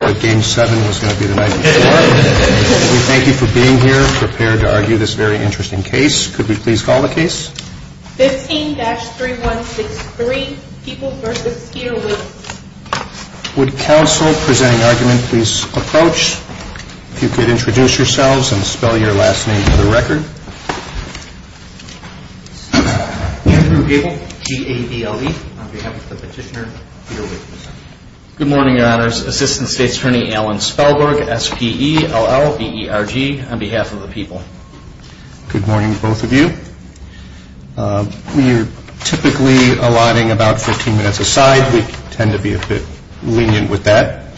We thank you for being here, prepared to argue this very interesting case. Could we please call the case? 15-3163, Peoples v. Galewicz. Would counsel presenting argument please approach? If you could introduce yourselves and spell your last name for the record. Andrew Gable, G-A-B-L-E, on behalf of the petitioner, Galewicz. Good morning, your honors. Assistant State's Attorney Alan Spellberg, S-P-E-L-L-B-E-R-G, on behalf of the people. Good morning, both of you. We are typically allotting about 14 minutes a side. We tend to be a bit lenient with that.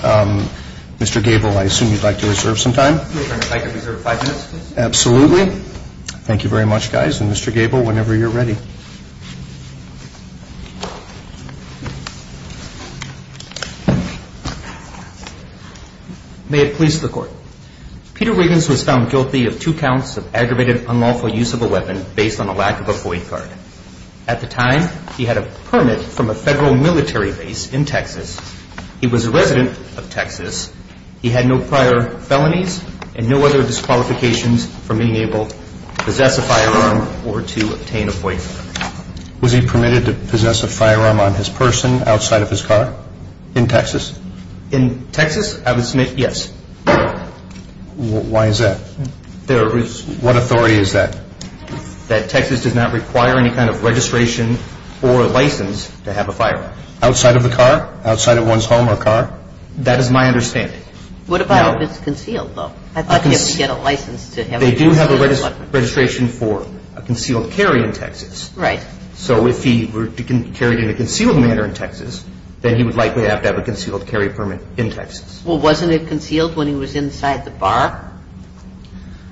Mr. Gable, I assume you'd like to reserve some time? I'd like to reserve five minutes, please. Absolutely. Thank you very much, guys. And Mr. Gable, whenever you're ready. May it please the Court. Peter Wiggins was found guilty of two counts of aggravated unlawful use of a weapon based on a lack of a FOIA card. At the time, he had a permit from a federal military base in Texas. He was a resident of Texas. He had no prior felonies and no other disqualifications for being able to possess a firearm or to obtain a FOIA card. Was he permitted to possess a firearm on his person outside of his car in Texas? In Texas, I would submit yes. Why is that? What authority is that? That Texas does not require any kind of registration or license to have a firearm. Outside of the car? Outside of one's home or car? That is my understanding. What about if it's concealed, though? I thought you had to get a license to have a concealed weapon. They do have a registration for a concealed carry in Texas. Right. So if he were carried in a concealed manner in Texas, then he would likely have to have a concealed carry permit in Texas. Well, wasn't it concealed when he was inside the bar?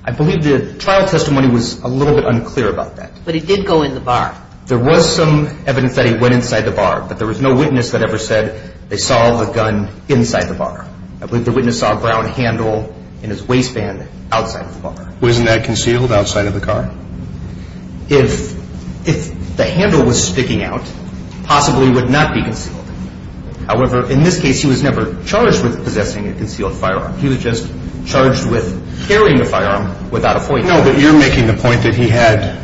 I believe the trial testimony was a little bit unclear about that. But he did go in the bar. There was some evidence that he went inside the bar, but there was no witness that ever said they saw the gun inside the bar. I believe the witness saw a brown handle in his waistband outside the bar. Wasn't that concealed outside of the car? If the handle was sticking out, possibly it would not be concealed. However, in this case, he was never charged with possessing a concealed firearm. He was just charged with carrying a firearm without a FOIA card. I don't know that you're making the point that he had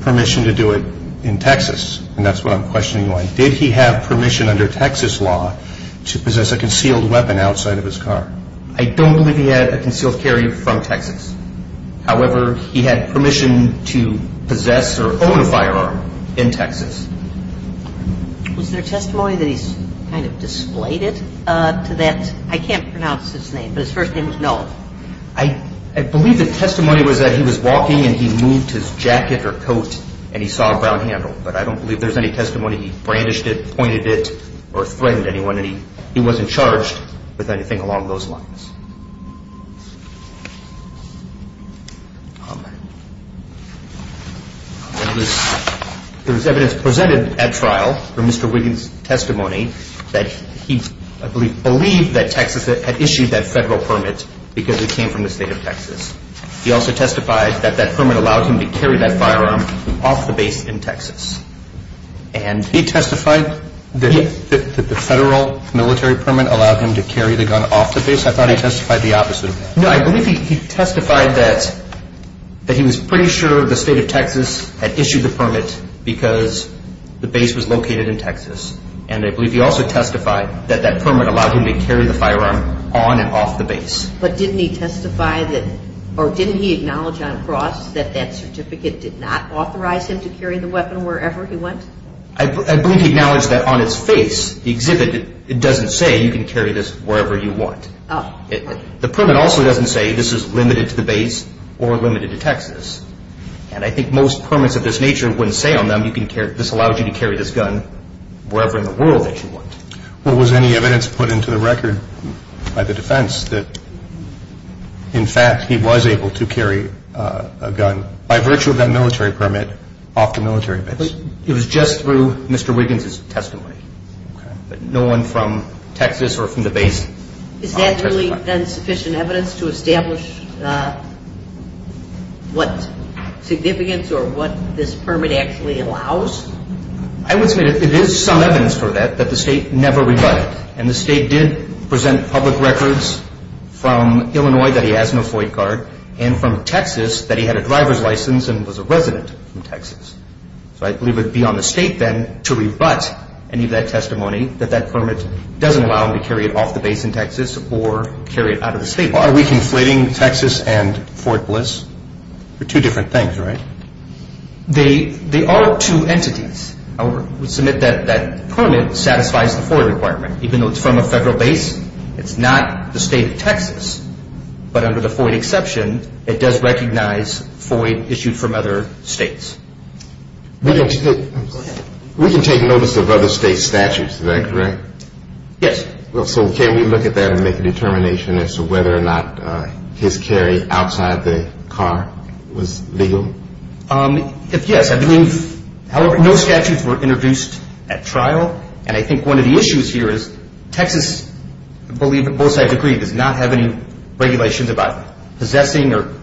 permission to do it in Texas, and that's what I'm questioning you on. Did he have permission under Texas law to possess a concealed weapon outside of his car? I don't believe he had a concealed carry from Texas. However, he had permission to possess or own a firearm in Texas. Was there testimony that he's kind of displayed it to that? I can't pronounce his name, but his first name was Noel. I believe the testimony was that he was walking, and he moved his jacket or coat, and he saw a brown handle. But I don't believe there's any testimony he brandished it, pointed it, or threatened anyone. He wasn't charged with anything along those lines. There was evidence presented at trial for Mr. Wiggins' testimony that he believed that Texas had issued that federal permit because it came from the state of Texas. He also testified that that permit allowed him to carry that firearm off the base in Texas. He testified that the federal military permit allowed him to carry the gun off the base? I thought he testified the opposite of that. No, I believe he testified that he was pretty sure the state of Texas had issued the permit because the base was located in Texas. And I believe he also testified that that permit allowed him to carry the firearm on and off the base. But didn't he acknowledge on cross that that certificate did not authorize him to carry the weapon wherever he went? I believe he acknowledged that on its face, the exhibit, it doesn't say you can carry this wherever you want. The permit also doesn't say this is limited to the base or limited to Texas. And I think most permits of this nature wouldn't say on them this allows you to carry this gun wherever in the world that you want. Was any evidence put into the record by the defense that, in fact, he was able to carry a gun by virtue of that military permit off the military base? It was just through Mr. Wiggins' testimony. No one from Texas or from the base testified. Is that really then sufficient evidence to establish what significance or what this permit actually allows? I would say it is some evidence for that that the state never rebutted. And the state did present public records from Illinois that he has no flight guard and from Texas that he had a driver's license and was a resident from Texas. So I believe it would be on the state then to rebut any of that testimony that that permit doesn't allow him to carry it off the base in Texas or carry it out of the state. Are we conflating Texas and Fort Bliss? They're two different things, right? They are two entities. I would submit that that permit satisfies the FOID requirement. Even though it's from a federal base, it's not the state of Texas. But under the FOID exception, it does recognize FOID issued from other states. We can take notice of other states' statutes, is that correct? Yes. So can we look at that and make a determination as to whether or not his carry outside the car was legal? Yes, I believe. However, no statutes were introduced at trial. And I think one of the issues here is Texas, I believe both sides agree, does not have any regulations about possessing or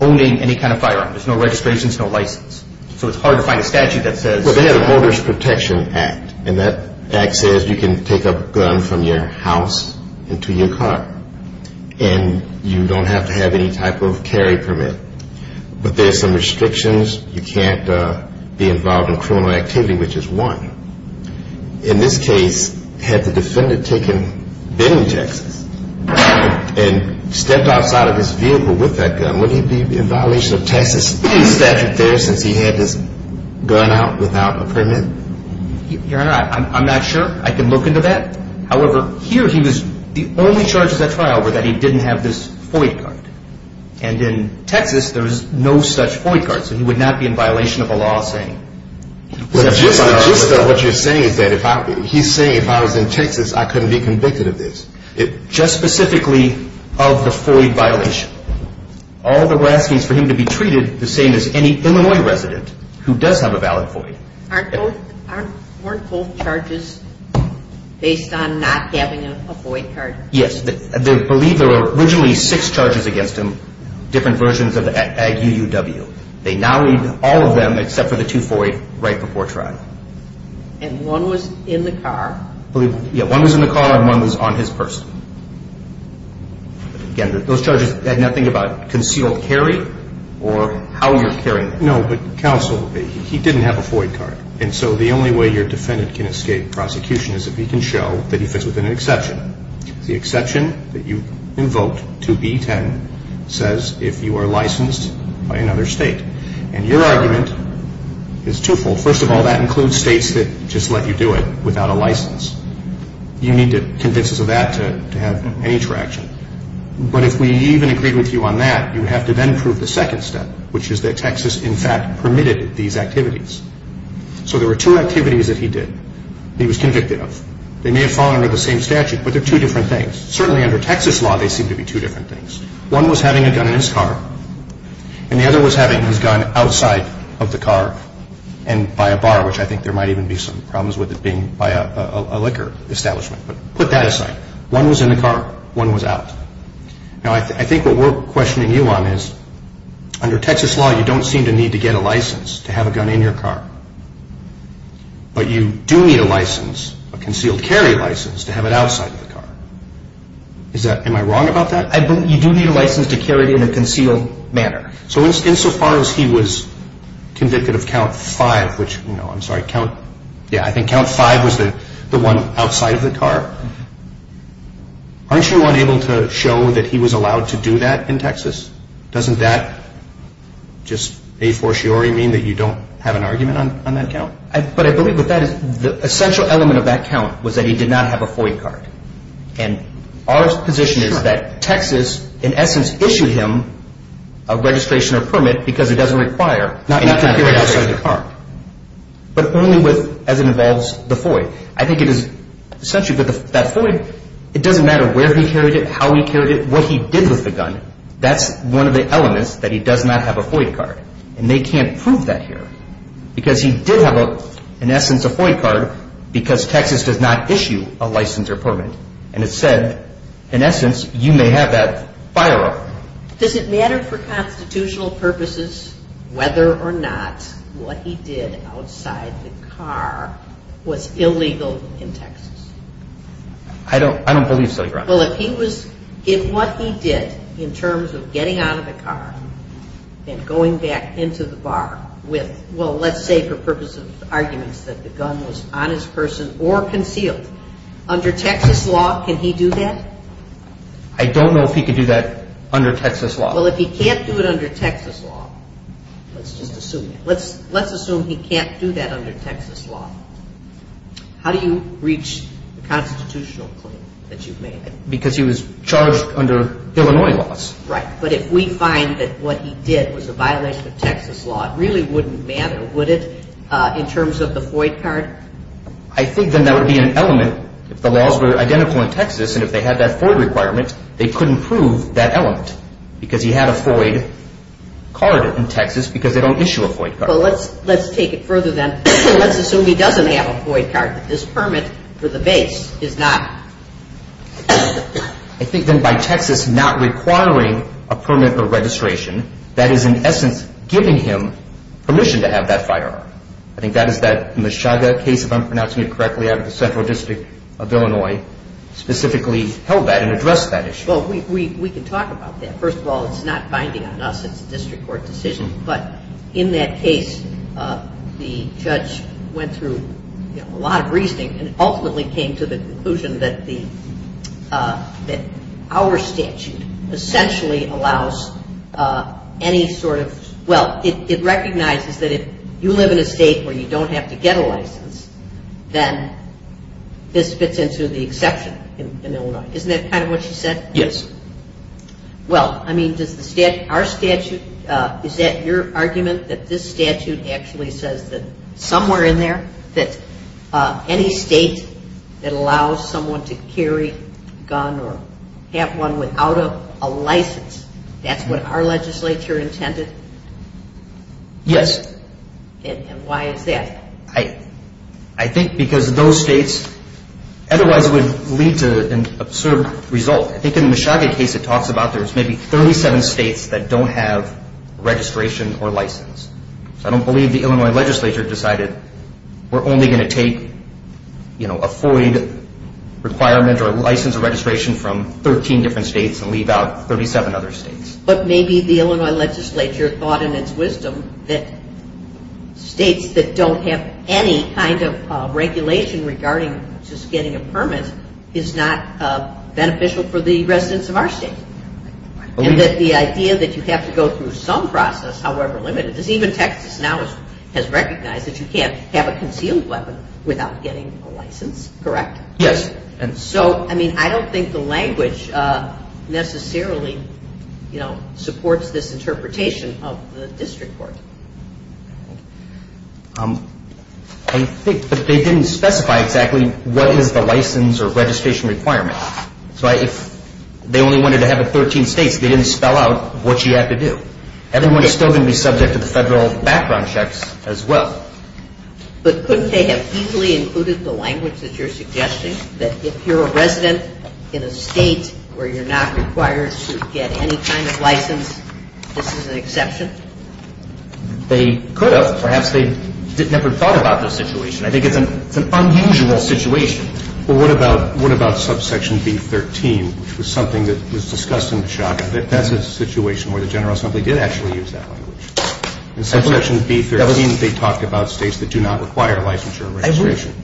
owning any kind of firearm. There's no registrations, no license. So it's hard to find a statute that says. Well, they have a Motorist Protection Act. And that act says you can take a gun from your house into your car. And you don't have to have any type of carry permit. But there's some restrictions. You can't be involved in criminal activity, which is one. In this case, had the defendant taken, been in Texas, and stepped outside of his vehicle with that gun, wouldn't he be in violation of Texas statute there since he had his gun out without a permit? Your Honor, I'm not sure. I can look into that. However, here he was, the only charges at trial were that he didn't have this FOID card. And in Texas, there's no such FOID card. So he would not be in violation of a law saying. Well, just what you're saying is that he's saying if I was in Texas, I couldn't be convicted of this. Just specifically of the FOID violation. All that we're asking is for him to be treated the same as any Illinois resident who does have a valid FOID. Weren't both charges based on not having a FOID card? Yes. They believe there were originally six charges against him, different versions of the UUW. They now need all of them except for the two FOID right before trial. And one was in the car? Yeah, one was in the car and one was on his purse. Again, those charges had nothing about concealed carry or how you're carrying it. No, but counsel, he didn't have a FOID card. And so the only way your defendant can escape prosecution is if he can show that he fits within an exception. The exception that you invoked to B-10 says if you are licensed by another state. And your argument is twofold. First of all, that includes states that just let you do it without a license. You need to convince us of that to have any traction. But if we even agreed with you on that, you would have to then prove the second step, which is that Texas, in fact, permitted these activities. So there were two activities that he did that he was convicted of. They may have fallen under the same statute, but they're two different things. Certainly under Texas law, they seem to be two different things. One was having a gun in his car, and the other was having his gun outside of the car and by a bar, which I think there might even be some problems with it being by a liquor establishment. But put that aside. One was in the car. One was out. Now, I think what we're questioning you on is under Texas law, you don't seem to need to get a license to have a gun in your car. But you do need a license, a concealed carry license, to have it outside of the car. Am I wrong about that? You do need a license to carry it in a concealed manner. So insofar as he was convicted of count five, which, you know, I'm sorry, yeah, I think count five was the one outside of the car. Aren't you unable to show that he was allowed to do that in Texas? Doesn't that just a fortiori mean that you don't have an argument on that count? But I believe what that is, the essential element of that count was that he did not have a FOIA card. And our position is that Texas, in essence, issued him a registration or permit because it doesn't require and he can carry it outside of the car, but only as it involves the FOIA. I think it is essential that that FOIA, it doesn't matter where he carried it, how he carried it, what he did with the gun, that's one of the elements that he does not have a FOIA card. And they can't prove that here because he did have, in essence, a FOIA card because Texas does not issue a license or permit. And it said, in essence, you may have that firearm. Does it matter for constitutional purposes whether or not what he did outside the car was illegal in Texas? I don't believe so, Your Honor. Well, if he was, if what he did in terms of getting out of the car and going back into the bar with, well, let's say for purposes of arguments that the gun was on his person or concealed, under Texas law, can he do that? I don't know if he can do that under Texas law. Well, if he can't do it under Texas law, let's just assume that. Let's assume he can't do that under Texas law. How do you reach the constitutional claim that you've made? Because he was charged under Illinois laws. Right, but if we find that what he did was a violation of Texas law, it really wouldn't matter, would it, in terms of the FOIA card? I think then that would be an element. If the laws were identical in Texas and if they had that FOIA requirement, they couldn't prove that element because he had a FOIA card in Texas because they don't issue a FOIA card. Well, let's take it further then. Let's assume he doesn't have a FOIA card, that this permit for the base is not. I think then by Texas not requiring a permit or registration, that is in essence giving him permission to have that firearm. I think that is that Meshuggah case, if I'm pronouncing it correctly, out of the Central District of Illinois specifically held that and addressed that issue. Well, we can talk about that. First of all, it's not binding on us. It's a district court decision. But in that case, the judge went through a lot of reasoning and ultimately came to the conclusion that our statute essentially allows any sort of – well, it recognizes that if you live in a state where you don't have to get a license, then this fits into the exception in Illinois. Isn't that kind of what you said? Yes. Well, I mean, does our statute – is that your argument that this statute actually says that somewhere in there that any state that allows someone to carry a gun or have one without a license, that's what our legislature intended? Yes. And why is that? I think because those states otherwise would lead to an absurd result. I think in the Meshuggah case it talks about there's maybe 37 states that don't have registration or license. So I don't believe the Illinois legislature decided we're only going to take a FOID requirement or license or registration from 13 different states and leave out 37 other states. But maybe the Illinois legislature thought in its wisdom that states that don't have any kind of regulation regarding just getting a permit is not beneficial for the residents of our state. And that the idea that you have to go through some process, however limited, because even Texas now has recognized that you can't have a concealed weapon without getting a license, correct? Yes. So, I mean, I don't think the language necessarily, you know, supports this interpretation of the district court. I think that they didn't specify exactly what is the license or registration requirement. So if they only wanted to have it 13 states, they didn't spell out what you have to do. Everyone is still going to be subject to the federal background checks as well. But couldn't they have easily included the language that you're suggesting, that if you're a resident in a state where you're not required to get any kind of license, this is an exception? They could have. Perhaps they never thought about the situation. I think it's an unusual situation. Well, what about subsection B-13, which was something that was discussed in the shotgun? That's a situation where the general assembly did actually use that language. In subsection B-13, they talked about states that do not require licensure and registration.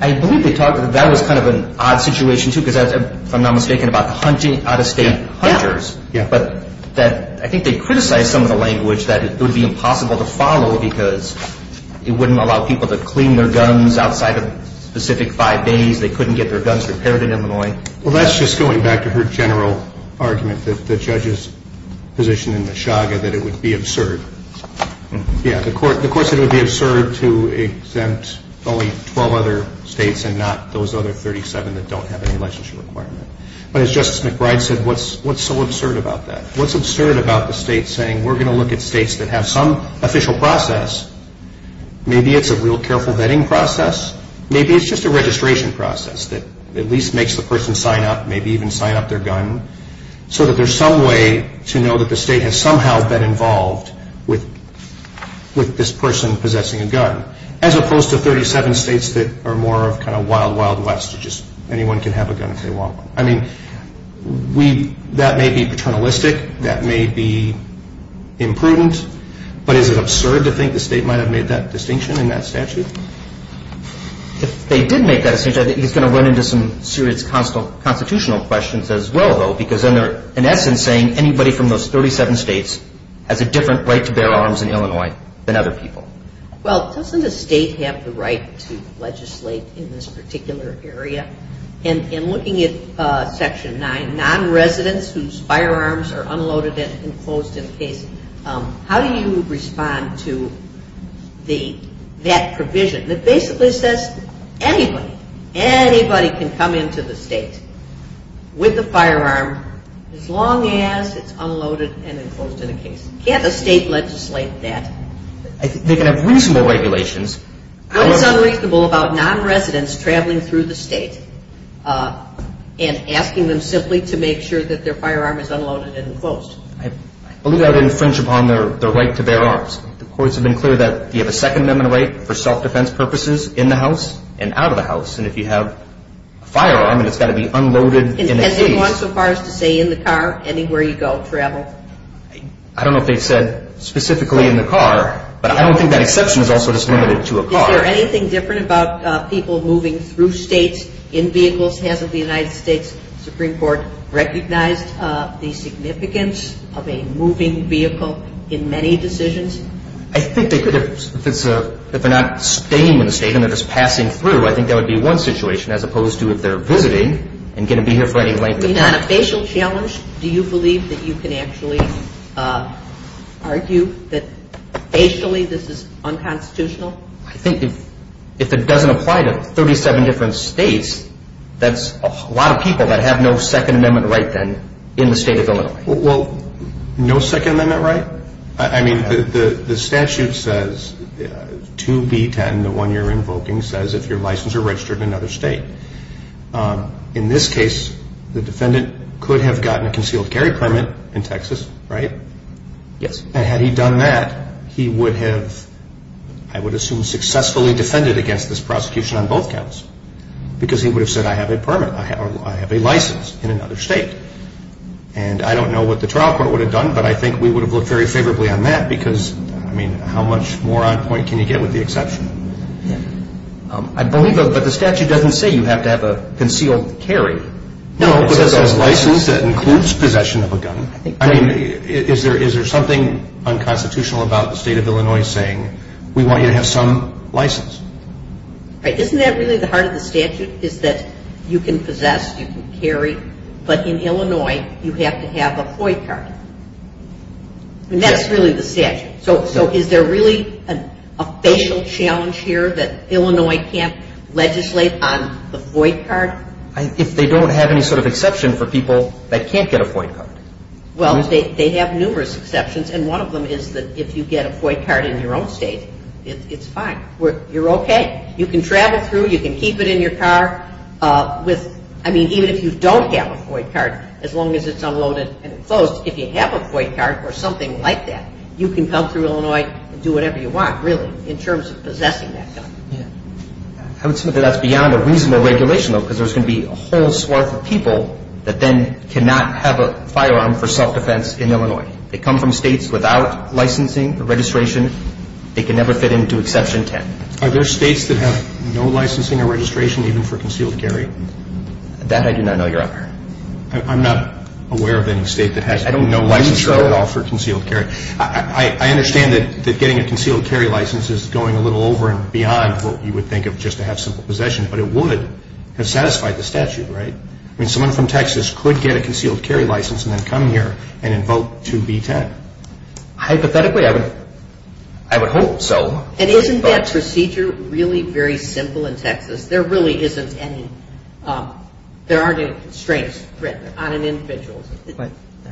I believe they talked about that. That was kind of an odd situation, too, because if I'm not mistaken, about hunting out-of-state hunters. Yeah. But I think they criticized some of the language that it would be impossible to follow because it wouldn't allow people to clean their guns outside of specific five days. They couldn't get their guns repaired in Illinois. Well, that's just going back to her general argument, the judge's position in the Chaga that it would be absurd. Yeah, the court said it would be absurd to exempt only 12 other states and not those other 37 that don't have any licensure requirement. But as Justice McBride said, what's so absurd about that? What's absurd about the state saying, we're going to look at states that have some official process, maybe it's a real careful vetting process, maybe it's just a registration process that at least makes the person sign up, maybe even sign up their gun, so that there's some way to know that the state has somehow been involved with this person possessing a gun, as opposed to 37 states that are more of kind of wild, wild west, where just anyone can have a gun if they want one. I mean, that may be paternalistic, that may be imprudent, but is it absurd to think the state might have made that distinction in that statute? If they did make that distinction, I think he's going to run into some serious constitutional questions as well, though, because then they're in essence saying anybody from those 37 states has a different right to bear arms in Illinois than other people. Well, doesn't the state have the right to legislate in this particular area? And in looking at Section 9, non-residents whose firearms are unloaded and enclosed in a case, how do you respond to that provision? It basically says anybody, anybody can come into the state with a firearm as long as it's unloaded and enclosed in a case. Can't a state legislate that? They can have reasonable regulations. What is unreasonable about non-residents traveling through the state and asking them simply to make sure that their firearm is unloaded and enclosed? I believe that would infringe upon their right to bear arms. The courts have been clear that you have a Second Amendment right for self-defense purposes in the house and out of the house, and if you have a firearm and it's got to be unloaded in a case. Has anyone so far as to say in the car, anywhere you go, travel? I don't know if they've said specifically in the car, but I don't think that exception is also just limited to a car. Is there anything different about people moving through states in vehicles? Hasn't the United States Supreme Court recognized the significance of a moving vehicle in many decisions? I think they could if they're not staying in the state and they're just passing through. I think that would be one situation as opposed to if they're visiting and going to be here for any length of time. On a facial challenge, do you believe that you can actually argue that facially this is unconstitutional? I think if it doesn't apply to 37 different states, that's a lot of people that have no Second Amendment right then in the state of Illinois. Well, no Second Amendment right? I mean, the statute says 2B10, the one you're invoking, says if you're licensed or registered in another state. In this case, the defendant could have gotten a concealed carry permit in Texas, right? Yes. And had he done that, he would have, I would assume, successfully defended against this prosecution on both counts because he would have said I have a permit, I have a license in another state. And I don't know what the trial court would have done, but I think we would have looked very favorably on that because, I mean, how much more on point can you get with the exception? I believe, but the statute doesn't say you have to have a concealed carry. No, but it says license, that includes possession of a gun. I mean, is there something unconstitutional about the state of Illinois saying we want you to have some license? Right, isn't that really the heart of the statute, is that you can possess, you can carry, but in Illinois you have to have a FOI card. And that's really the statute. Okay, so is there really a facial challenge here that Illinois can't legislate on the FOI card? If they don't have any sort of exception for people that can't get a FOI card. Well, they have numerous exceptions, and one of them is that if you get a FOI card in your own state, it's fine. You're okay. You can travel through, you can keep it in your car with, I mean, even if you don't have a FOI card, as long as it's unloaded and enclosed, if you have a FOI card or something like that, you can come through Illinois and do whatever you want, really, in terms of possessing that gun. I would say that that's beyond a reasonable regulation, though, because there's going to be a whole swath of people that then cannot have a firearm for self-defense in Illinois. They come from states without licensing or registration. They can never fit into Exception 10. Are there states that have no licensing or registration even for concealed carry? That I do not know, Your Honor. I'm not aware of any state that has no license at all for concealed carry. I understand that getting a concealed carry license is going a little over and beyond what you would think of just to have simple possession, but it would have satisfied the statute, right? I mean, someone from Texas could get a concealed carry license and then come here and invoke 2B10. Hypothetically, I would hope so. And isn't that procedure really very simple in Texas? There really isn't any. There aren't any constraints written on an individual.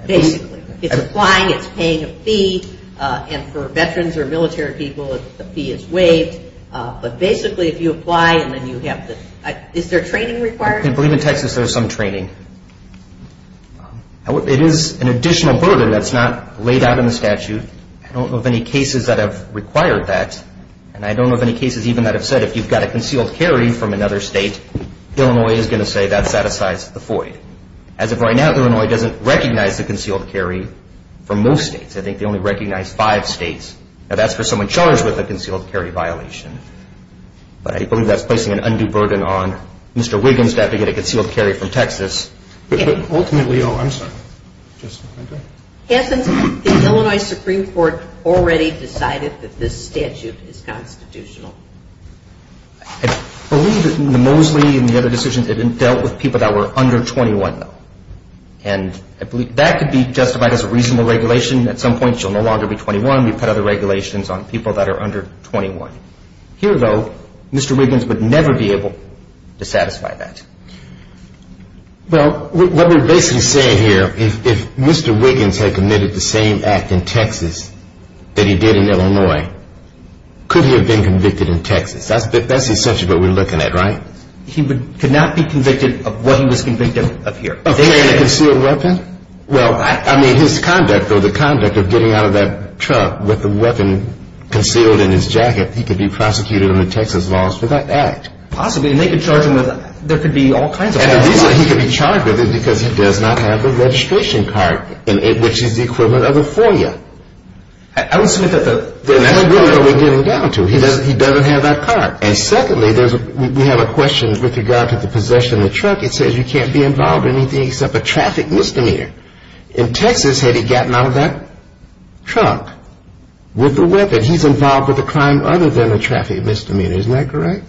Basically, it's applying, it's paying a fee, and for veterans or military people, the fee is waived. But basically, if you apply and then you have to – is there training required? I believe in Texas there is some training. It is an additional burden that's not laid out in the statute. I don't know of any cases that have required that, and I don't know of any cases even that have said if you've got a concealed carry from another state, Illinois is going to say that satisfies the FOID. As of right now, Illinois doesn't recognize a concealed carry from most states. I think they only recognize five states. Now, that's for someone charged with a concealed carry violation. But I believe that's placing an undue burden on Mr. Wiggins to have to get a concealed carry from Texas. Ultimately – oh, I'm sorry. Hanson, the Illinois Supreme Court already decided that this statute is constitutional. I believe that the Mosley and the other decisions have been dealt with people that were under 21, though. And I believe that could be justified as a reasonable regulation. At some point, she'll no longer be 21. We've had other regulations on people that are under 21. Here, though, Mr. Wiggins would never be able to satisfy that. Well, what we're basically saying here, if Mr. Wiggins had committed the same act in Texas that he did in Illinois, could he have been convicted in Texas? That's essentially what we're looking at, right? He could not be convicted of what he was convicted of here. Of carrying a concealed weapon? Well, I mean, his conduct, though, the conduct of getting out of that truck with the weapon concealed in his jacket, he could be prosecuted under Texas laws for that act. Possibly, and they could charge him with, there could be all kinds of things. And the reason he could be charged with it is because he does not have the registration card, which is the equivalent of a FOIA. I would submit that the... And that's really what we're getting down to. He doesn't have that card. And secondly, we have a question with regard to the possession of the truck. It says you can't be involved in anything except a traffic misdemeanor. In Texas, had he gotten out of that truck with the weapon, he's involved with a crime other than a traffic misdemeanor. Isn't that correct?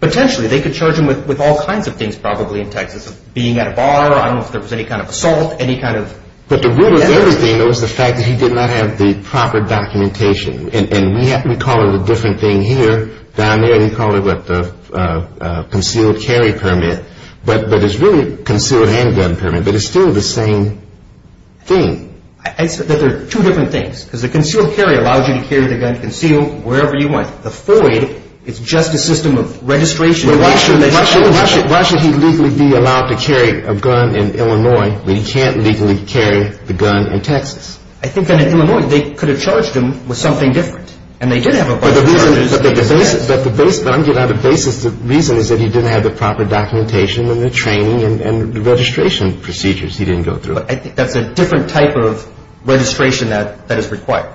Potentially. They could charge him with all kinds of things probably in Texas, being at a bar, I don't know if there was any kind of assault, any kind of... But the root of everything, though, is the fact that he did not have the proper documentation. And we call it a different thing here. Down there, we call it, what, the concealed carry permit. But it's really concealed handgun permit, but it's still the same thing. I said that there are two different things, because the concealed carry allows you to carry the gun concealed wherever you want. The FOIA, it's just a system of registration. Why should he legally be allowed to carry a gun in Illinois when he can't legally carry the gun in Texas? I think that in Illinois, they could have charged him with something different. And they did have a... But the basis, the reason is that he didn't have the proper documentation and the training and the registration procedures he didn't go through. But I think that's a different type of registration that is required.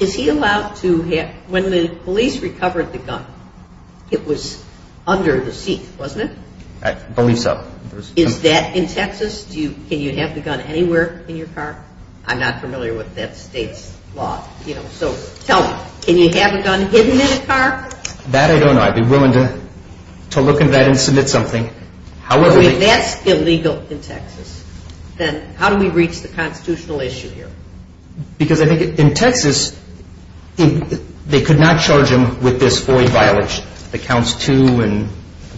Is he allowed to have... When the police recovered the gun, it was under the seat, wasn't it? I believe so. Is that in Texas? Can you have the gun anywhere in your car? I'm not familiar with that state's law. So tell me, can you have a gun hidden in a car? That I don't know. I'd be willing to look into that and submit something. If that's illegal in Texas, then how do we reach the constitutional issue here? Because I think in Texas, they could not charge him with this FOIA violation, the counts two and,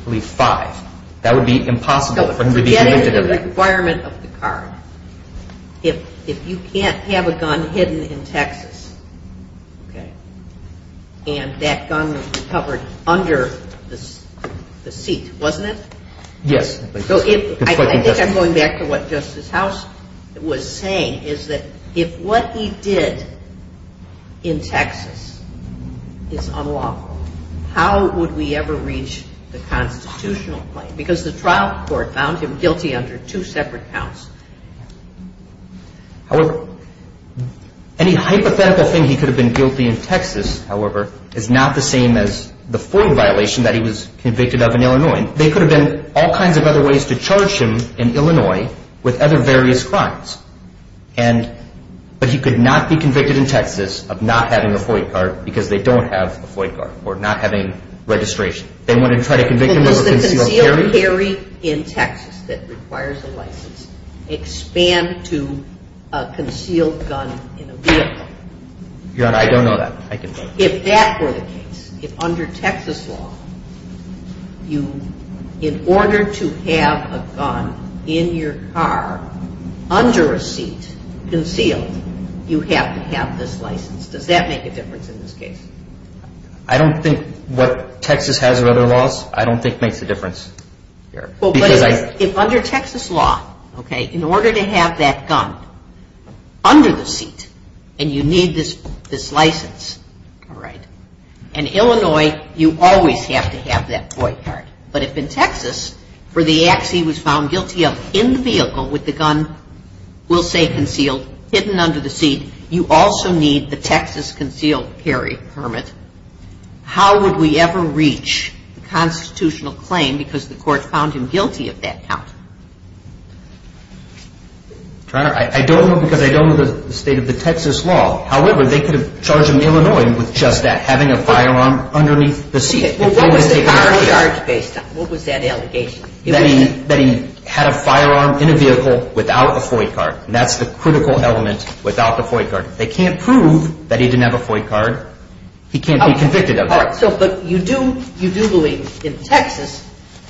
I believe, five. That would be impossible for him to be convicted of that. That is the requirement of the card. If you can't have a gun hidden in Texas, and that gun was recovered under the seat, wasn't it? Yes. I think I'm going back to what Justice House was saying, is that if what he did in Texas is unlawful, how would we ever reach the constitutional claim? Because the trial court found him guilty under two separate counts. However, any hypothetical thing he could have been guilty in Texas, however, is not the same as the FOIA violation that he was convicted of in Illinois. There could have been all kinds of other ways to charge him in Illinois with other various crimes. But he could not be convicted in Texas of not having a FOIA card because they don't have a FOIA card, or not having registration. They want to try to convict him of a concealed carry? Well, does the concealed carry in Texas that requires a license expand to a concealed gun in a vehicle? Your Honor, I don't know that. I can vote. If that were the case, if under Texas law, in order to have a gun in your car under a seat, concealed, you have to have this license, does that make a difference in this case? I don't think what Texas has of other laws I don't think makes a difference. If under Texas law, in order to have that gun under the seat and you need this license, all right, in Illinois you always have to have that FOIA card. But if in Texas, for the acts he was found guilty of in the vehicle with the gun, we'll say concealed, hidden under the seat, you also need the Texas concealed carry permit, how would we ever reach the constitutional claim because the court found him guilty of that count? Your Honor, I don't know because I don't know the state of the Texas law. However, they could have charged him in Illinois with just that, having a firearm underneath the seat. Well, what was the charge based on? What was that allegation? That he had a firearm in a vehicle without a FOIA card. That's the critical element without the FOIA card. They can't prove that he didn't have a FOIA card. He can't be convicted of that. But you do believe in Texas,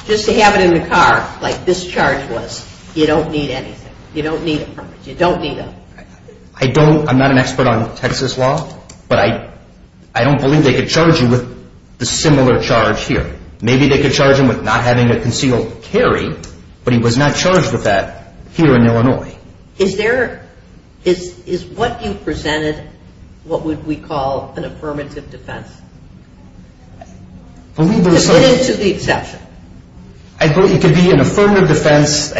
just to have it in the car, like this charge was, you don't need anything. You don't need a permit. You don't need a permit. I don't. I'm not an expert on Texas law. But I don't believe they could charge him with a similar charge here. Maybe they could charge him with not having a concealed carry, but he was not charged with that here in Illinois. Is there, is what you presented, what would we call an affirmative defense? Believe there is some. What is the exception? I believe it could be an affirmative defense.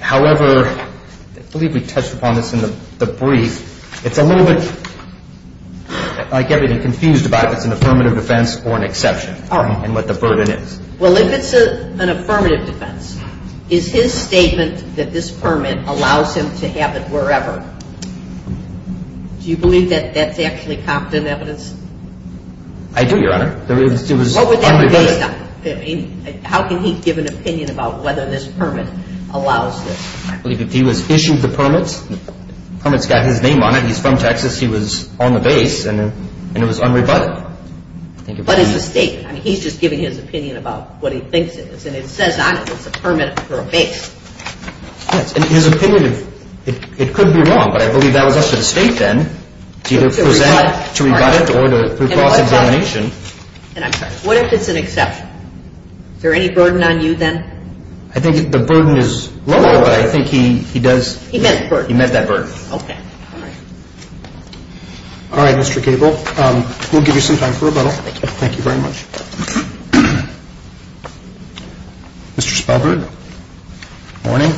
However, I believe we touched upon this in the brief. It's a little bit like getting confused about if it's an affirmative defense or an exception. All right. And what the burden is. Well, if it's an affirmative defense, is his statement that this permit allows him to have it wherever, do you believe that that's actually confident evidence? I do, Your Honor. It was unrebutted. How can he give an opinion about whether this permit allows this? I believe if he was issued the permit, the permit's got his name on it. He's from Texas. He was on the base, and it was unrebutted. But it's a statement. I mean, he's just giving his opinion about what he thinks it is, and it says on it it's a permit for a base. Yes, and his opinion, it could be wrong, but I believe that was up to the state then to either present, to rebut it, or to pass a determination. And I'm sorry, what if it's an exception? Is there any burden on you then? I think the burden is lower, but I think he does. He met the burden. He met that burden. Okay. All right, Mr. Cable, we'll give you some time for rebuttal. Thank you. Thank you very much. Mr. Spalberg. Good morning.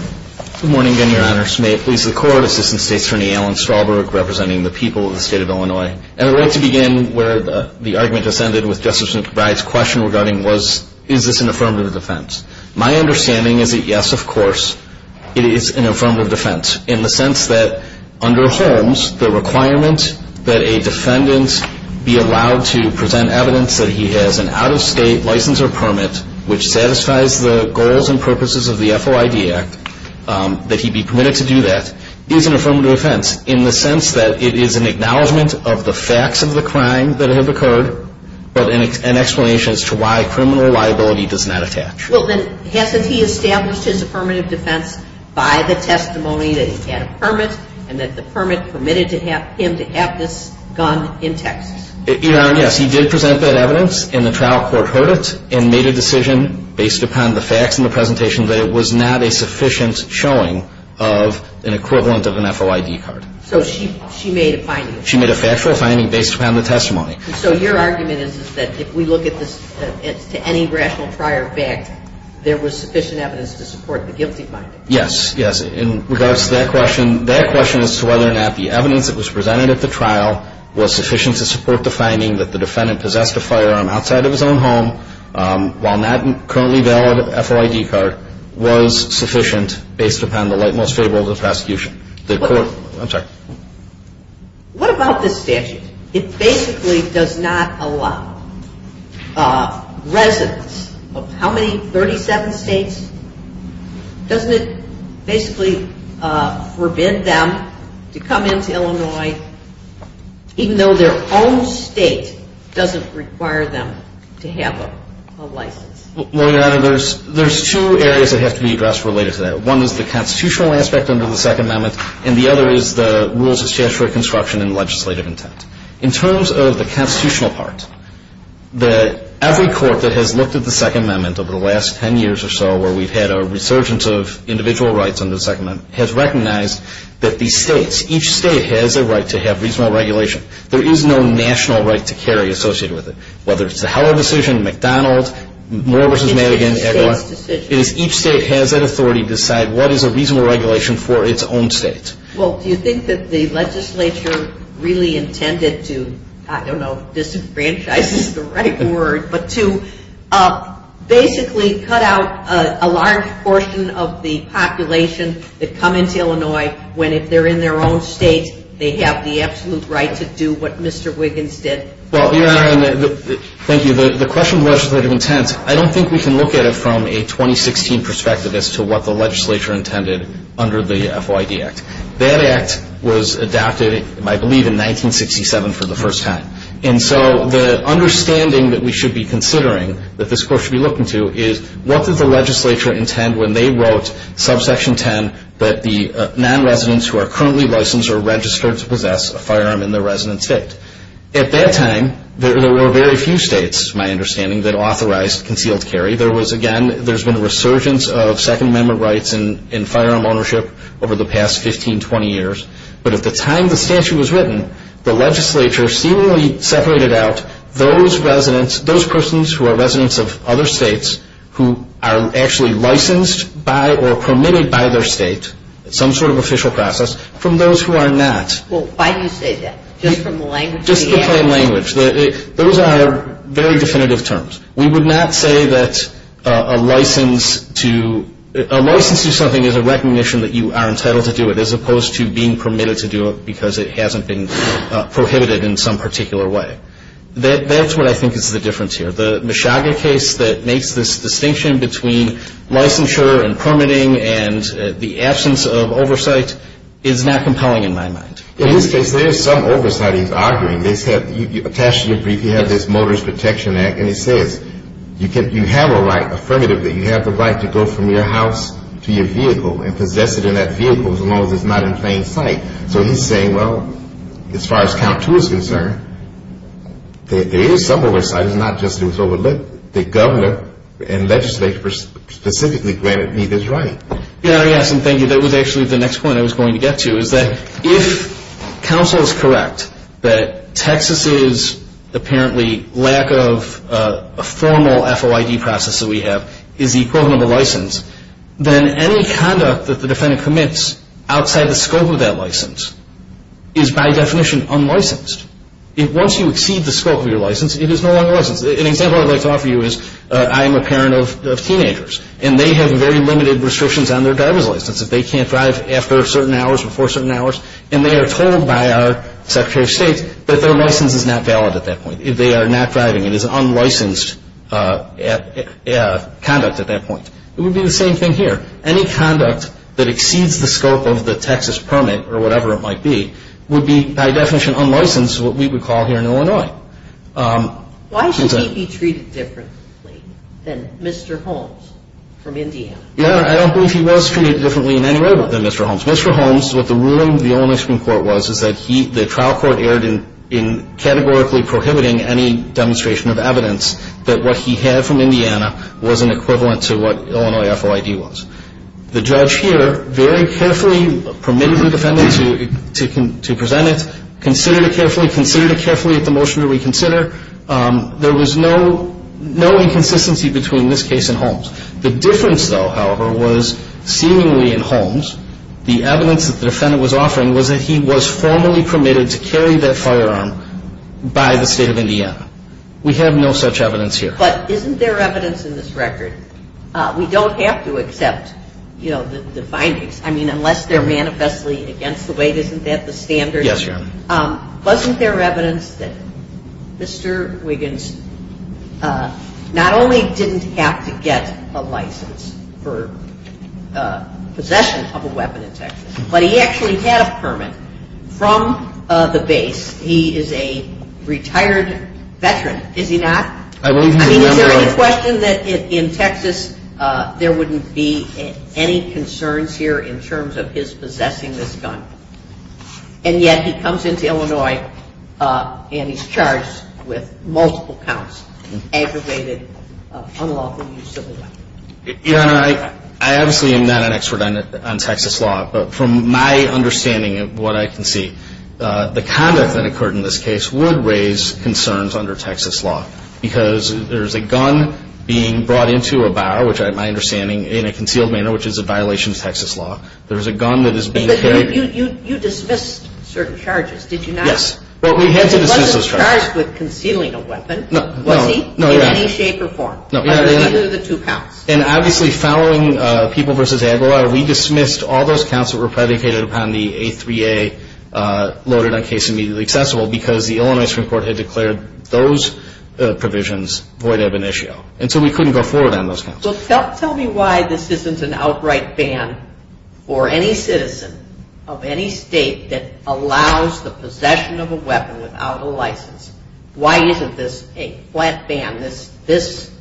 Good morning again, Your Honor. May it please the Court, Assistant State's Attorney Alan Spalberg, representing the people of the State of Illinois. And I'd like to begin where the argument descended with Justice McBride's question regarding was, is this an affirmative defense? My understanding is that, yes, of course, it is an affirmative defense in the sense that under Holmes, the requirement that a defendant be allowed to present evidence that he has an out-of-state license or permit which satisfies the goals and purposes of the FOID Act, that he be permitted to do that, is an affirmative defense. In the sense that it is an acknowledgement of the facts of the crime that have occurred, but an explanation as to why criminal liability does not attach. Well, then, hasn't he established his affirmative defense by the testimony that he had a permit and that the permit permitted him to have this gun in Texas? Your Honor, yes, he did present that evidence, and the trial court heard it and made a decision based upon the facts in the presentation that it was not a sufficient showing of an equivalent of an FOID card. So she made a finding. She made a factual finding based upon the testimony. So your argument is that if we look at this as to any rational prior fact, there was sufficient evidence to support the guilty finding. Yes, yes. In regards to that question, that question as to whether or not the evidence that was presented at the trial was sufficient to support the finding that the defendant possessed a firearm outside of his own home while that currently valid FOID card was sufficient based upon the light most favorable to the prosecution. The court, I'm sorry. What about this statute? It basically does not allow residents of how many, 37 states? Doesn't it basically forbid them to come into Illinois even though their own state doesn't require them to have a license? Well, Your Honor, there's two areas that have to be addressed related to that. One is the constitutional aspect under the Second Amendment, and the other is the rules of statutory construction and legislative intent. In terms of the constitutional part, every court that has looked at the Second Amendment over the last 10 years or so where we've had a resurgence of individual rights under the Second Amendment has recognized that these states, each state has a right to have reasonable regulation. There is no national right to carry associated with it. Whether it's the Heller decision, McDonald, Moore v. Madigan, everyone, it is each state has that authority to decide what is a reasonable regulation for its own state. Well, do you think that the legislature really intended to, I don't know if disenfranchise is the right word, but to basically cut out a large portion of the population that come into Illinois when if they're in their own state, they have the absolute right to do what Mr. Wiggins did? Well, Your Honor, thank you. The question of legislative intent, I don't think we can look at it from a 2016 perspective as to what the legislature intended under the FYD Act. That Act was adopted, I believe, in 1967 for the first time. And so the understanding that we should be considering, that this court should be looking to, is what does the legislature intend when they wrote subsection 10 that the non-residents who are currently licensed are registered to possess a firearm in their resident state? At that time, there were very few states, my understanding, that authorized concealed carry. There was, again, there's been a resurgence of Second Amendment rights in firearm ownership over the past 15, 20 years. But at the time the statute was written, the legislature seemingly separated out those residents, those persons who are residents of other states who are actually licensed by or permitted by their state, some sort of official process, from those who are not. Well, why do you say that? Just from the language of the Act? Just the plain language. Those are very definitive terms. We would not say that a license to something is a recognition that you are entitled to do it as opposed to being permitted to do it because it hasn't been prohibited in some particular way. That's what I think is the difference here. The Mishaga case that makes this distinction between licensure and permitting and the absence of oversight is not compelling in my mind. In this case, there is some oversight he's arguing. They said, attached to your brief, you have this Motorist Protection Act, and it says you have a right, affirmatively, you have the right to go from your house to your vehicle and possess it in that vehicle as long as it's not in plain sight. So he's saying, well, as far as count two is concerned, there is some oversight. It's not just that it was overlit. The governor and legislature specifically granted me this right. Yes, and thank you. That was actually the next point I was going to get to is that if counsel is correct that Texas's apparently lack of a formal FOID process that we have is the equivalent of a license, then any conduct that the defendant commits outside the scope of that license is by definition unlicensed. Once you exceed the scope of your license, it is no longer licensed. An example I'd like to offer you is I am a parent of teenagers, and they have very limited restrictions on their driver's license. They can't drive after certain hours, before certain hours, and they are told by our Secretary of State that their license is not valid at that point. They are not driving. It is unlicensed conduct at that point. It would be the same thing here. Any conduct that exceeds the scope of the Texas permit, or whatever it might be, would be by definition unlicensed, what we would call here in Illinois. Why should he be treated differently than Mr. Holmes from Indiana? I don't believe he was treated differently in any way than Mr. Holmes. Mr. Holmes, what the ruling of the Illinois Supreme Court was, is that the trial court erred in categorically prohibiting any demonstration of evidence that what he had from Indiana was an equivalent to what Illinois FOID was. The judge here very carefully permitted the defendant to present it, considered it carefully, considered it carefully at the motion to reconsider. There was no inconsistency between this case and Holmes. The difference, though, however, was seemingly in Holmes, the evidence that the defendant was offering was that he was formally permitted to carry that firearm by the State of Indiana. We have no such evidence here. But isn't there evidence in this record? We don't have to accept, you know, the findings. I mean, unless they're manifestly against the weight, isn't that the standard? Yes, Your Honor. Wasn't there evidence that Mr. Wiggins not only didn't have to get a license for possession of a weapon in Texas, but he actually had a permit from the base. He is a retired veteran, is he not? I don't remember. I mean, is there any question that in Texas there wouldn't be any concerns here in terms of his possessing this gun? And yet he comes into Illinois and he's charged with multiple counts, aggravated unlawful use of a weapon. Your Honor, I obviously am not an expert on Texas law, but from my understanding of what I can see, the conduct that occurred in this case would raise concerns under Texas law because there is a gun being brought into a bar, which I have my understanding, in a concealed manner, which is a violation of Texas law. There is a gun that is being carried. But you dismissed certain charges, did you not? Yes. Well, we had to dismiss those charges. He wasn't charged with concealing a weapon, was he? No, Your Honor. In any shape or form, under either of the two counts? Yes. And obviously, following People v. Aguilar, we dismissed all those counts that were predicated upon the A3A loaded on case immediately accessible because the Illinois Supreme Court had declared those provisions void ab initio. And so we couldn't go forward on those counts. Well, tell me why this isn't an outright ban for any citizen of any state that allows the possession of a weapon without a license. Why isn't this a flat ban, this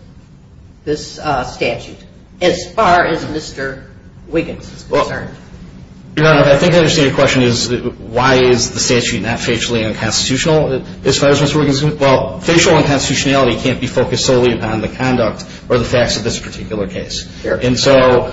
statute, as far as Mr. Wiggins is concerned? Well, Your Honor, I think I understand your question is why is the statute not facially unconstitutional as far as Mr. Wiggins is concerned? Well, facial unconstitutionality can't be focused solely upon the conduct or the facts of this particular case. And so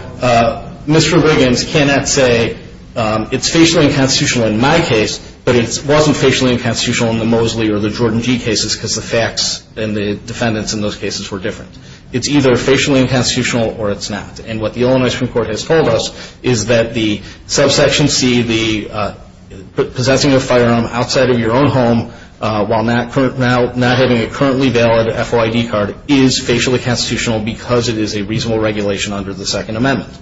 Mr. Wiggins cannot say it's facially unconstitutional in my case, but it wasn't facially unconstitutional in the Mosley or the Jordan G cases because the facts and the defendants in those cases were different. It's either facially unconstitutional or it's not. And what the Illinois Supreme Court has told us is that the subsection C, the possessing of a firearm outside of your own home while not having a currently valid FOID card is facially constitutional because it is a reasonable regulation under the Second Amendment.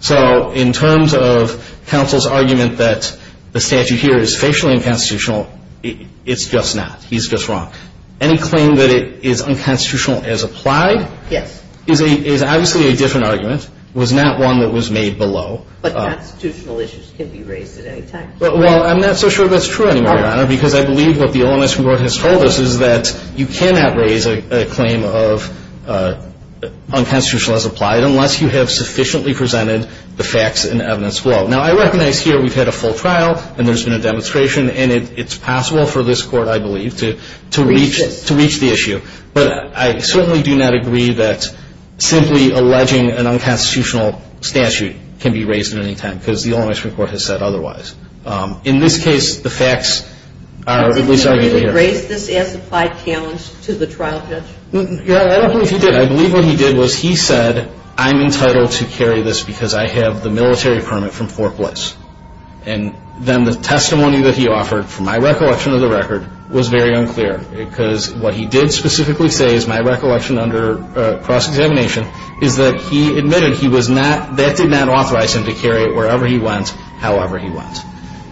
So in terms of counsel's argument that the statute here is facially unconstitutional, it's just not. He's just wrong. Any claim that it is unconstitutional as applied is obviously a different argument. It was not one that was made below. But constitutional issues can be raised at any time. Well, I'm not so sure that's true anymore, Your Honor, because I believe what the Illinois Supreme Court has told us is that you cannot raise a claim of unconstitutional as applied unless you have sufficiently presented the facts and evidence below. Now, I recognize here we've had a full trial and there's been a demonstration, and it's possible for this Court, I believe, to reach the issue. But I certainly do not agree that simply alleging an unconstitutional statute can be raised at any time because the Illinois Supreme Court has said otherwise. In this case, the facts are at least argued here. Did he raise this as applied challenge to the trial judge? I don't believe he did. What I believe what he did was he said, I'm entitled to carry this because I have the military permit from Fort Bliss. And then the testimony that he offered, from my recollection of the record, was very unclear because what he did specifically say, as my recollection under cross-examination, is that he admitted that did not authorize him to carry it wherever he went, however he went.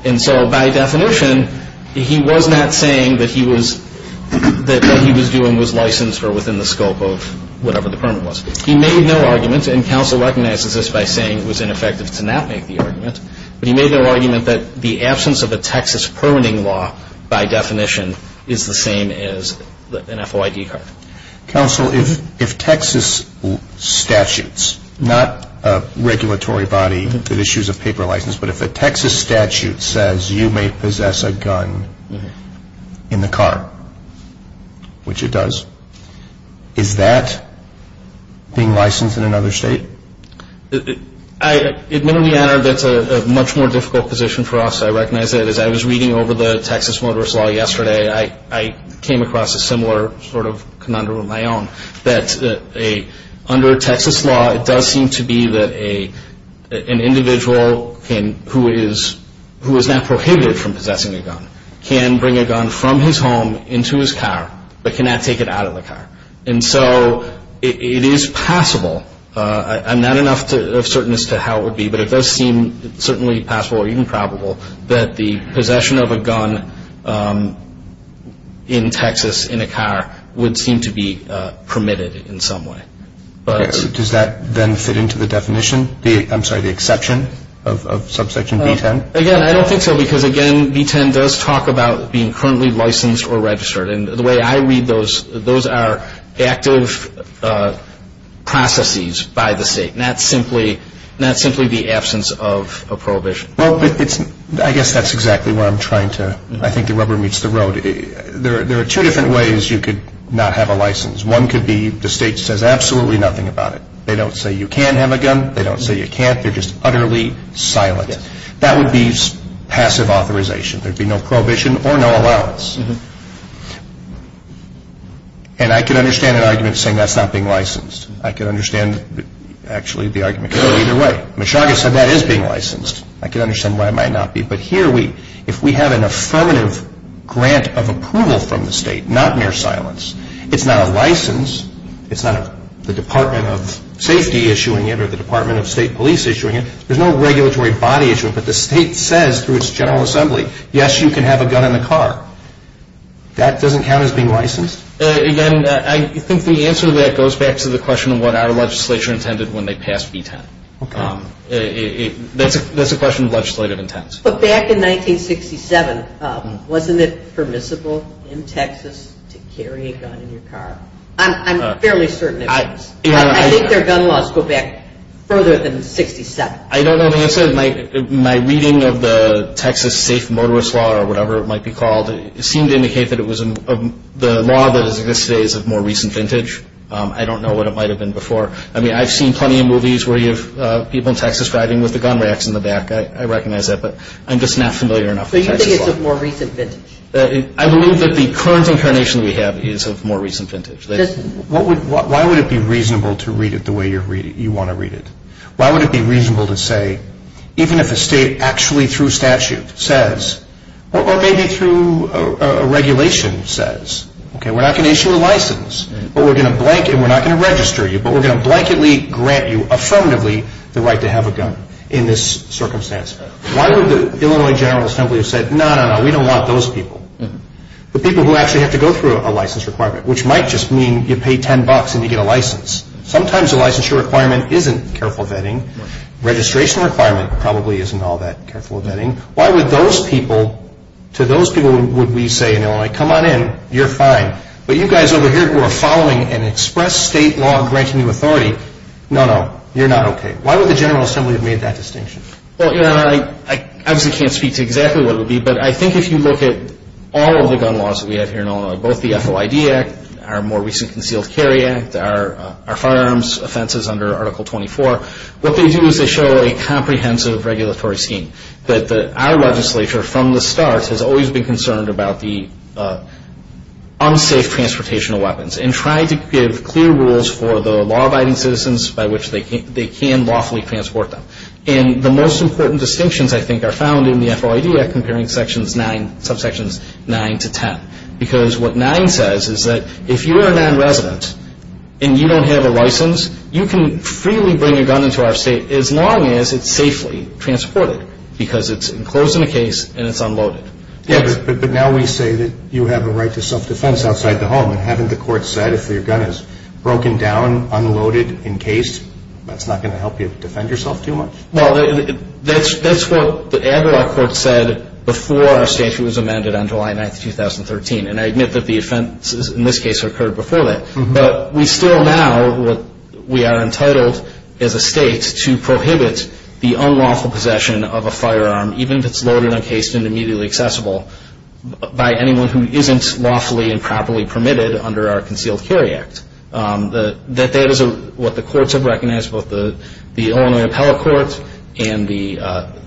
And so by definition, he was not saying that what he was doing was licensed or within the scope of whatever the permit was. He made no argument, and counsel recognizes this by saying it was ineffective to not make the argument, but he made no argument that the absence of a Texas permitting law, by definition, is the same as an FOID card. Counsel, if Texas statutes, not a regulatory body that issues a paper license, but if a Texas statute says you may possess a gun in the car, which it does, is that being licensed in another state? Admittedly, that's a much more difficult position for us. I recognize that. As I was reading over the Texas motorist law yesterday, I came across a similar sort of conundrum of my own, that under Texas law, it does seem to be that an individual who is not prohibited from possessing a gun can bring a gun from his home into his car, but cannot take it out of the car. And so it is possible, I'm not enough certain as to how it would be, but it does seem certainly possible or even probable that the possession of a gun in Texas in a car would seem to be permitted in some way. Does that then fit into the definition? I'm sorry, the exception of subsection B-10? Again, I don't think so, because, again, B-10 does talk about being currently licensed or registered. And the way I read those, those are active processes by the state, not simply the absence of a prohibition. I guess that's exactly what I'm trying to, I think the rubber meets the road. There are two different ways you could not have a license. One could be the state says absolutely nothing about it. They don't say you can have a gun. They don't say you can't. They're just utterly silent. That would be passive authorization. There would be no prohibition or no allowance. And I can understand an argument saying that's not being licensed. I can understand, actually, the argument going either way. Meshuggah said that is being licensed. I can understand why it might not be. But here, if we have an affirmative grant of approval from the state, not mere silence, it's not a license. It's not the Department of Safety issuing it or the Department of State Police issuing it. There's no regulatory body issue. But the state says through its General Assembly, yes, you can have a gun in the car. That doesn't count as being licensed? Again, I think the answer to that goes back to the question of what our legislature intended when they passed B-10. Okay. That's a question of legislative intent. But back in 1967, wasn't it permissible in Texas to carry a gun in your car? I'm fairly certain it was. I think their gun laws go back further than 67. I don't know the answer. My reading of the Texas safe motorist law or whatever it might be called, it seemed to indicate that it was the law that exists today is of more recent vintage. I don't know what it might have been before. I mean, I've seen plenty of movies where you have people in Texas driving with the gun racks in the back. I recognize that. But I'm just not familiar enough with Texas law. So you think it's of more recent vintage? I believe that the current incarnation we have is of more recent vintage. Why would it be reasonable to read it the way you want to read it? Why would it be reasonable to say, even if a state actually through statute says, or maybe through a regulation says, okay, we're not going to issue a license, but we're not going to register you, but we're going to blanketly grant you affirmatively the right to have a gun in this circumstance? Why would the Illinois General Assembly have said, no, no, no, we don't want those people? The people who actually have to go through a license requirement, which might just mean you pay $10 and you get a license. Sometimes a licensure requirement isn't careful vetting. Registration requirement probably isn't all that careful vetting. Why would those people, to those people would we say in Illinois, come on in, you're fine. But you guys over here who are following an express state law granting you authority, no, no, you're not okay. Why would the General Assembly have made that distinction? Well, I obviously can't speak to exactly what it would be, but I think if you look at all of the gun laws that we have here in Illinois, both the FOID Act, our more recent Concealed Carry Act, our firearms offenses under Article 24, what they do is they show a comprehensive regulatory scheme. Our legislature from the start has always been concerned about the unsafe transportation of weapons and tried to give clear rules for the law-abiding citizens by which they can lawfully transport them. And the most important distinctions I think are found in the FOID Act comparing subsections 9 to 10. Because what 9 says is that if you are a non-resident and you don't have a license, you can freely bring a gun into our state as long as it's safely transported because it's enclosed in a case and it's unloaded. Yeah, but now we say that you have a right to self-defense outside the home. And haven't the courts said if your gun is broken down, unloaded, encased, that's not going to help you defend yourself too much? Well, that's what the Aguilar Court said before our statute was amended on July 9, 2013. And I admit that the offenses in this case occurred before that. But we still now, we are entitled as a state to prohibit the unlawful possession of a firearm, even if it's loaded, encased, and immediately accessible, by anyone who isn't lawfully and properly permitted under our Concealed Carry Act. That is what the courts have recognized, both the Illinois Appellate Court and the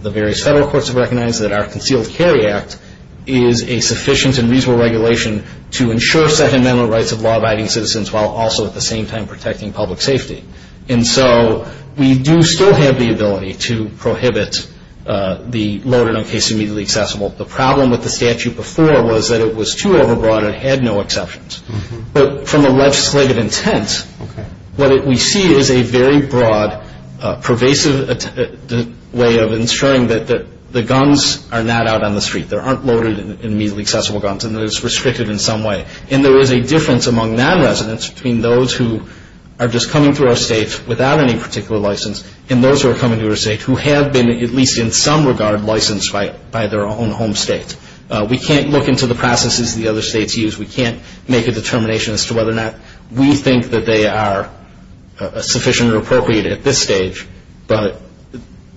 various federal courts have recognized, that our Concealed Carry Act is a sufficient and reasonable regulation to ensure sentimental rights of law-abiding citizens while also at the same time protecting public safety. And so we do still have the ability to prohibit the loaded, encased, and immediately accessible. The problem with the statute before was that it was too overbroad and had no exceptions. But from a legislative intent, what we see is a very broad, pervasive way of ensuring that the guns are not out on the street. They aren't loaded and immediately accessible guns, and that it's restricted in some way. And there is a difference among non-residents between those who are just coming through our state without any particular license and those who are coming to our state who have been, at least in some regard, licensed by their own home state. We can't look into the processes the other states use. We can't make a determination as to whether or not we think that they are sufficient or appropriate at this stage. But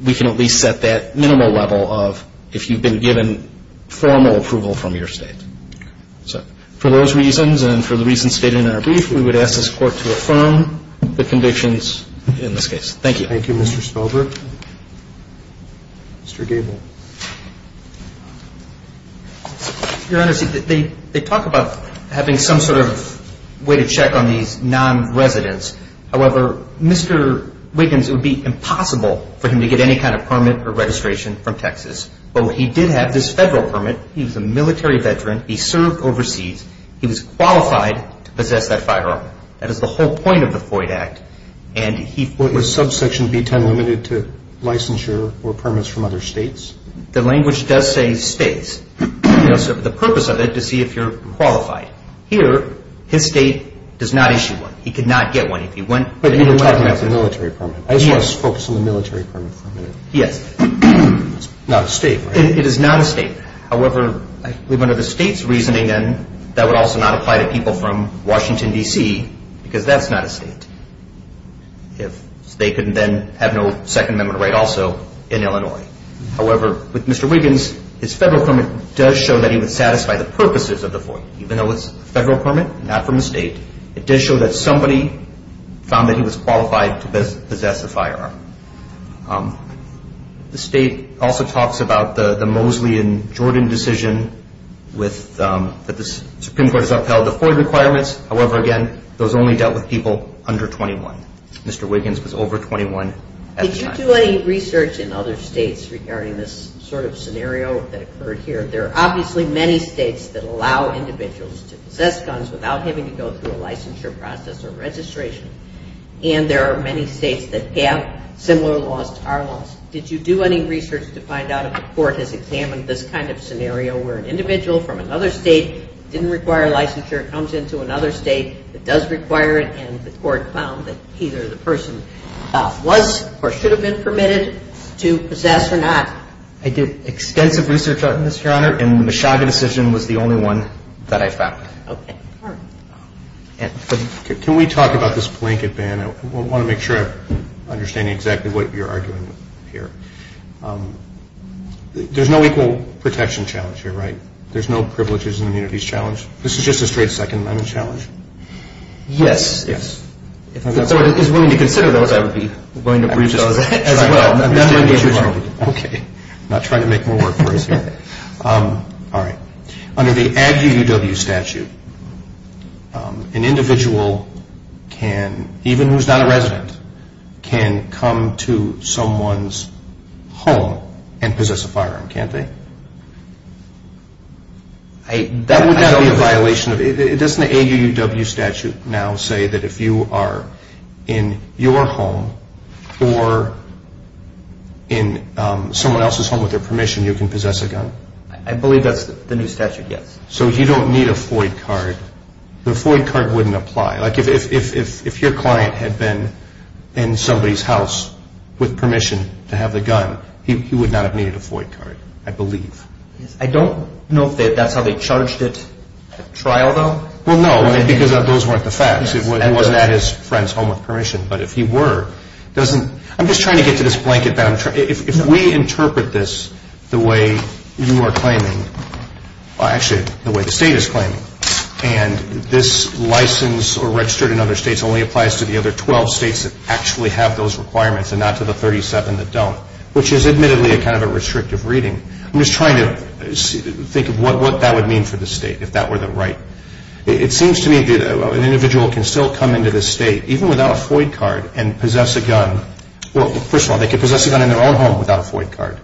we can at least set that minimal level of if you've been given formal approval from your state. So for those reasons and for the reasons stated in our brief, we would ask this Court to affirm the convictions in this case. Thank you. Thank you, Mr. Spilberg. Mr. Gabel. Your Honors, they talk about having some sort of way to check on these non-residents. However, Mr. Wiggins, it would be impossible for him to get any kind of permit or registration from Texas. But he did have this federal permit. He was a military veteran. He served overseas. He was qualified to possess that firearm. That is the whole point of the Floyd Act. Was subsection B-10 limited to licensure or permits from other states? The language does say states. The purpose of it is to see if you're qualified. Here, his state does not issue one. He could not get one. But you're talking about the military permit. I just want to focus on the military permit for a minute. Yes. It's not a state, right? It is not a state. However, I believe under the state's reasoning, then, that would also not apply to people from Washington, D.C., because that's not a state. They could then have no Second Amendment right also in Illinois. However, with Mr. Wiggins, his federal permit does show that he would satisfy the purposes of the Floyd, even though it's a federal permit, not from a state. It does show that somebody found that he was qualified to possess the firearm. The state also talks about the Mosley and Jordan decision that the Supreme Court has upheld the Floyd requirements. However, again, those only dealt with people under 21. Mr. Wiggins was over 21 at the time. Did you do any research in other states regarding this sort of scenario that occurred here? There are obviously many states that allow individuals to possess guns without having to go through a licensure process or registration, and there are many states that have similar laws to our laws. Did you do any research to find out if the court has examined this kind of scenario where an individual from another state didn't require licensure, comes into another state that does require it, and the court found that either the person was or should have been permitted to possess or not? I did extensive research on this, Your Honor, and the Mishaga decision was the only one that I found. Can we talk about this blanket ban? I want to make sure I'm understanding exactly what you're arguing here. There's no equal protection challenge here, right? There's no privileges and immunities challenge? This is just a straight Second Amendment challenge? Yes. If someone is willing to consider those, I would be willing to approve those as well. Okay. I'm not trying to make more work for us here. All right. Under the ADD UUW statute, an individual can, even who's not a resident, can come to someone's home and possess a firearm, can't they? That would not be a violation. Doesn't the AUUW statute now say that if you are in your home or in someone else's home with their permission, you can possess a gun? I believe that's the new statute, yes. So you don't need a FOID card? The FOID card wouldn't apply. Like if your client had been in somebody's house with permission to have the gun, he would not have needed a FOID card, I believe. I don't know if that's how they charged it at trial, though. Well, no, because those weren't the facts. He wasn't at his friend's home with permission. But if he were, doesn't – I'm just trying to get to this blanket. If we interpret this the way you are claiming – actually, the way the state is claiming, and this license or registered in other states only applies to the other 12 states that actually have those requirements and not to the 37 that don't, which is admittedly kind of a restrictive reading. I'm just trying to think of what that would mean for the state if that were the right. It seems to me that an individual can still come into the state, even without a FOID card, and possess a gun. Well, first of all, they could possess a gun in their own home without a FOID card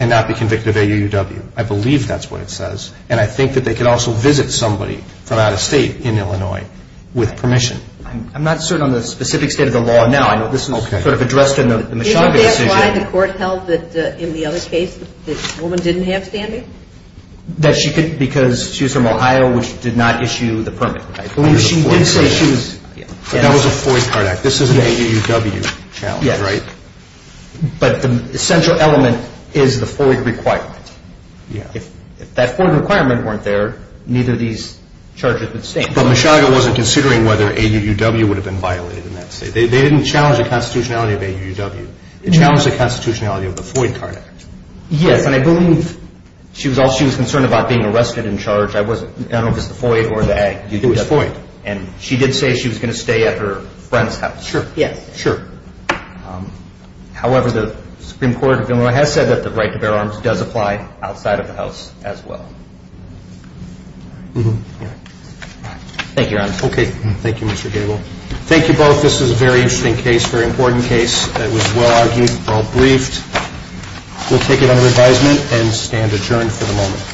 and not be convicted of AUUW. I believe that's what it says. And I think that they could also visit somebody from out of state in Illinois with permission. I'm not certain on the specific state of the law now. I know this is sort of addressed in the Machado decision. Is that why the court held that in the other case the woman didn't have standing? That she could because she was from Ohio, which did not issue the permit. I believe she did say she was – That was a FOID card act. This is an AUUW challenge, right? Yes. But the central element is the FOID requirement. If that FOID requirement weren't there, neither of these charges would stand. But Machado wasn't considering whether AUUW would have been violated in that state. They didn't challenge the constitutionality of AUUW. They challenged the constitutionality of the FOID card act. Yes, and I believe she was concerned about being arrested and charged. I don't know if it was the FOID or the act. It was FOID. And she did say she was going to stay at her friend's house. Sure. Yes. Sure. However, the Supreme Court of Illinois has said that the right to bear arms does apply outside of the house as well. Thank you, Your Honor. Okay. Thank you, Mr. Gabel. Thank you both. This was a very interesting case, a very important case. It was well-argued, well-briefed. We'll take it under advisement and stand adjourned for the moment.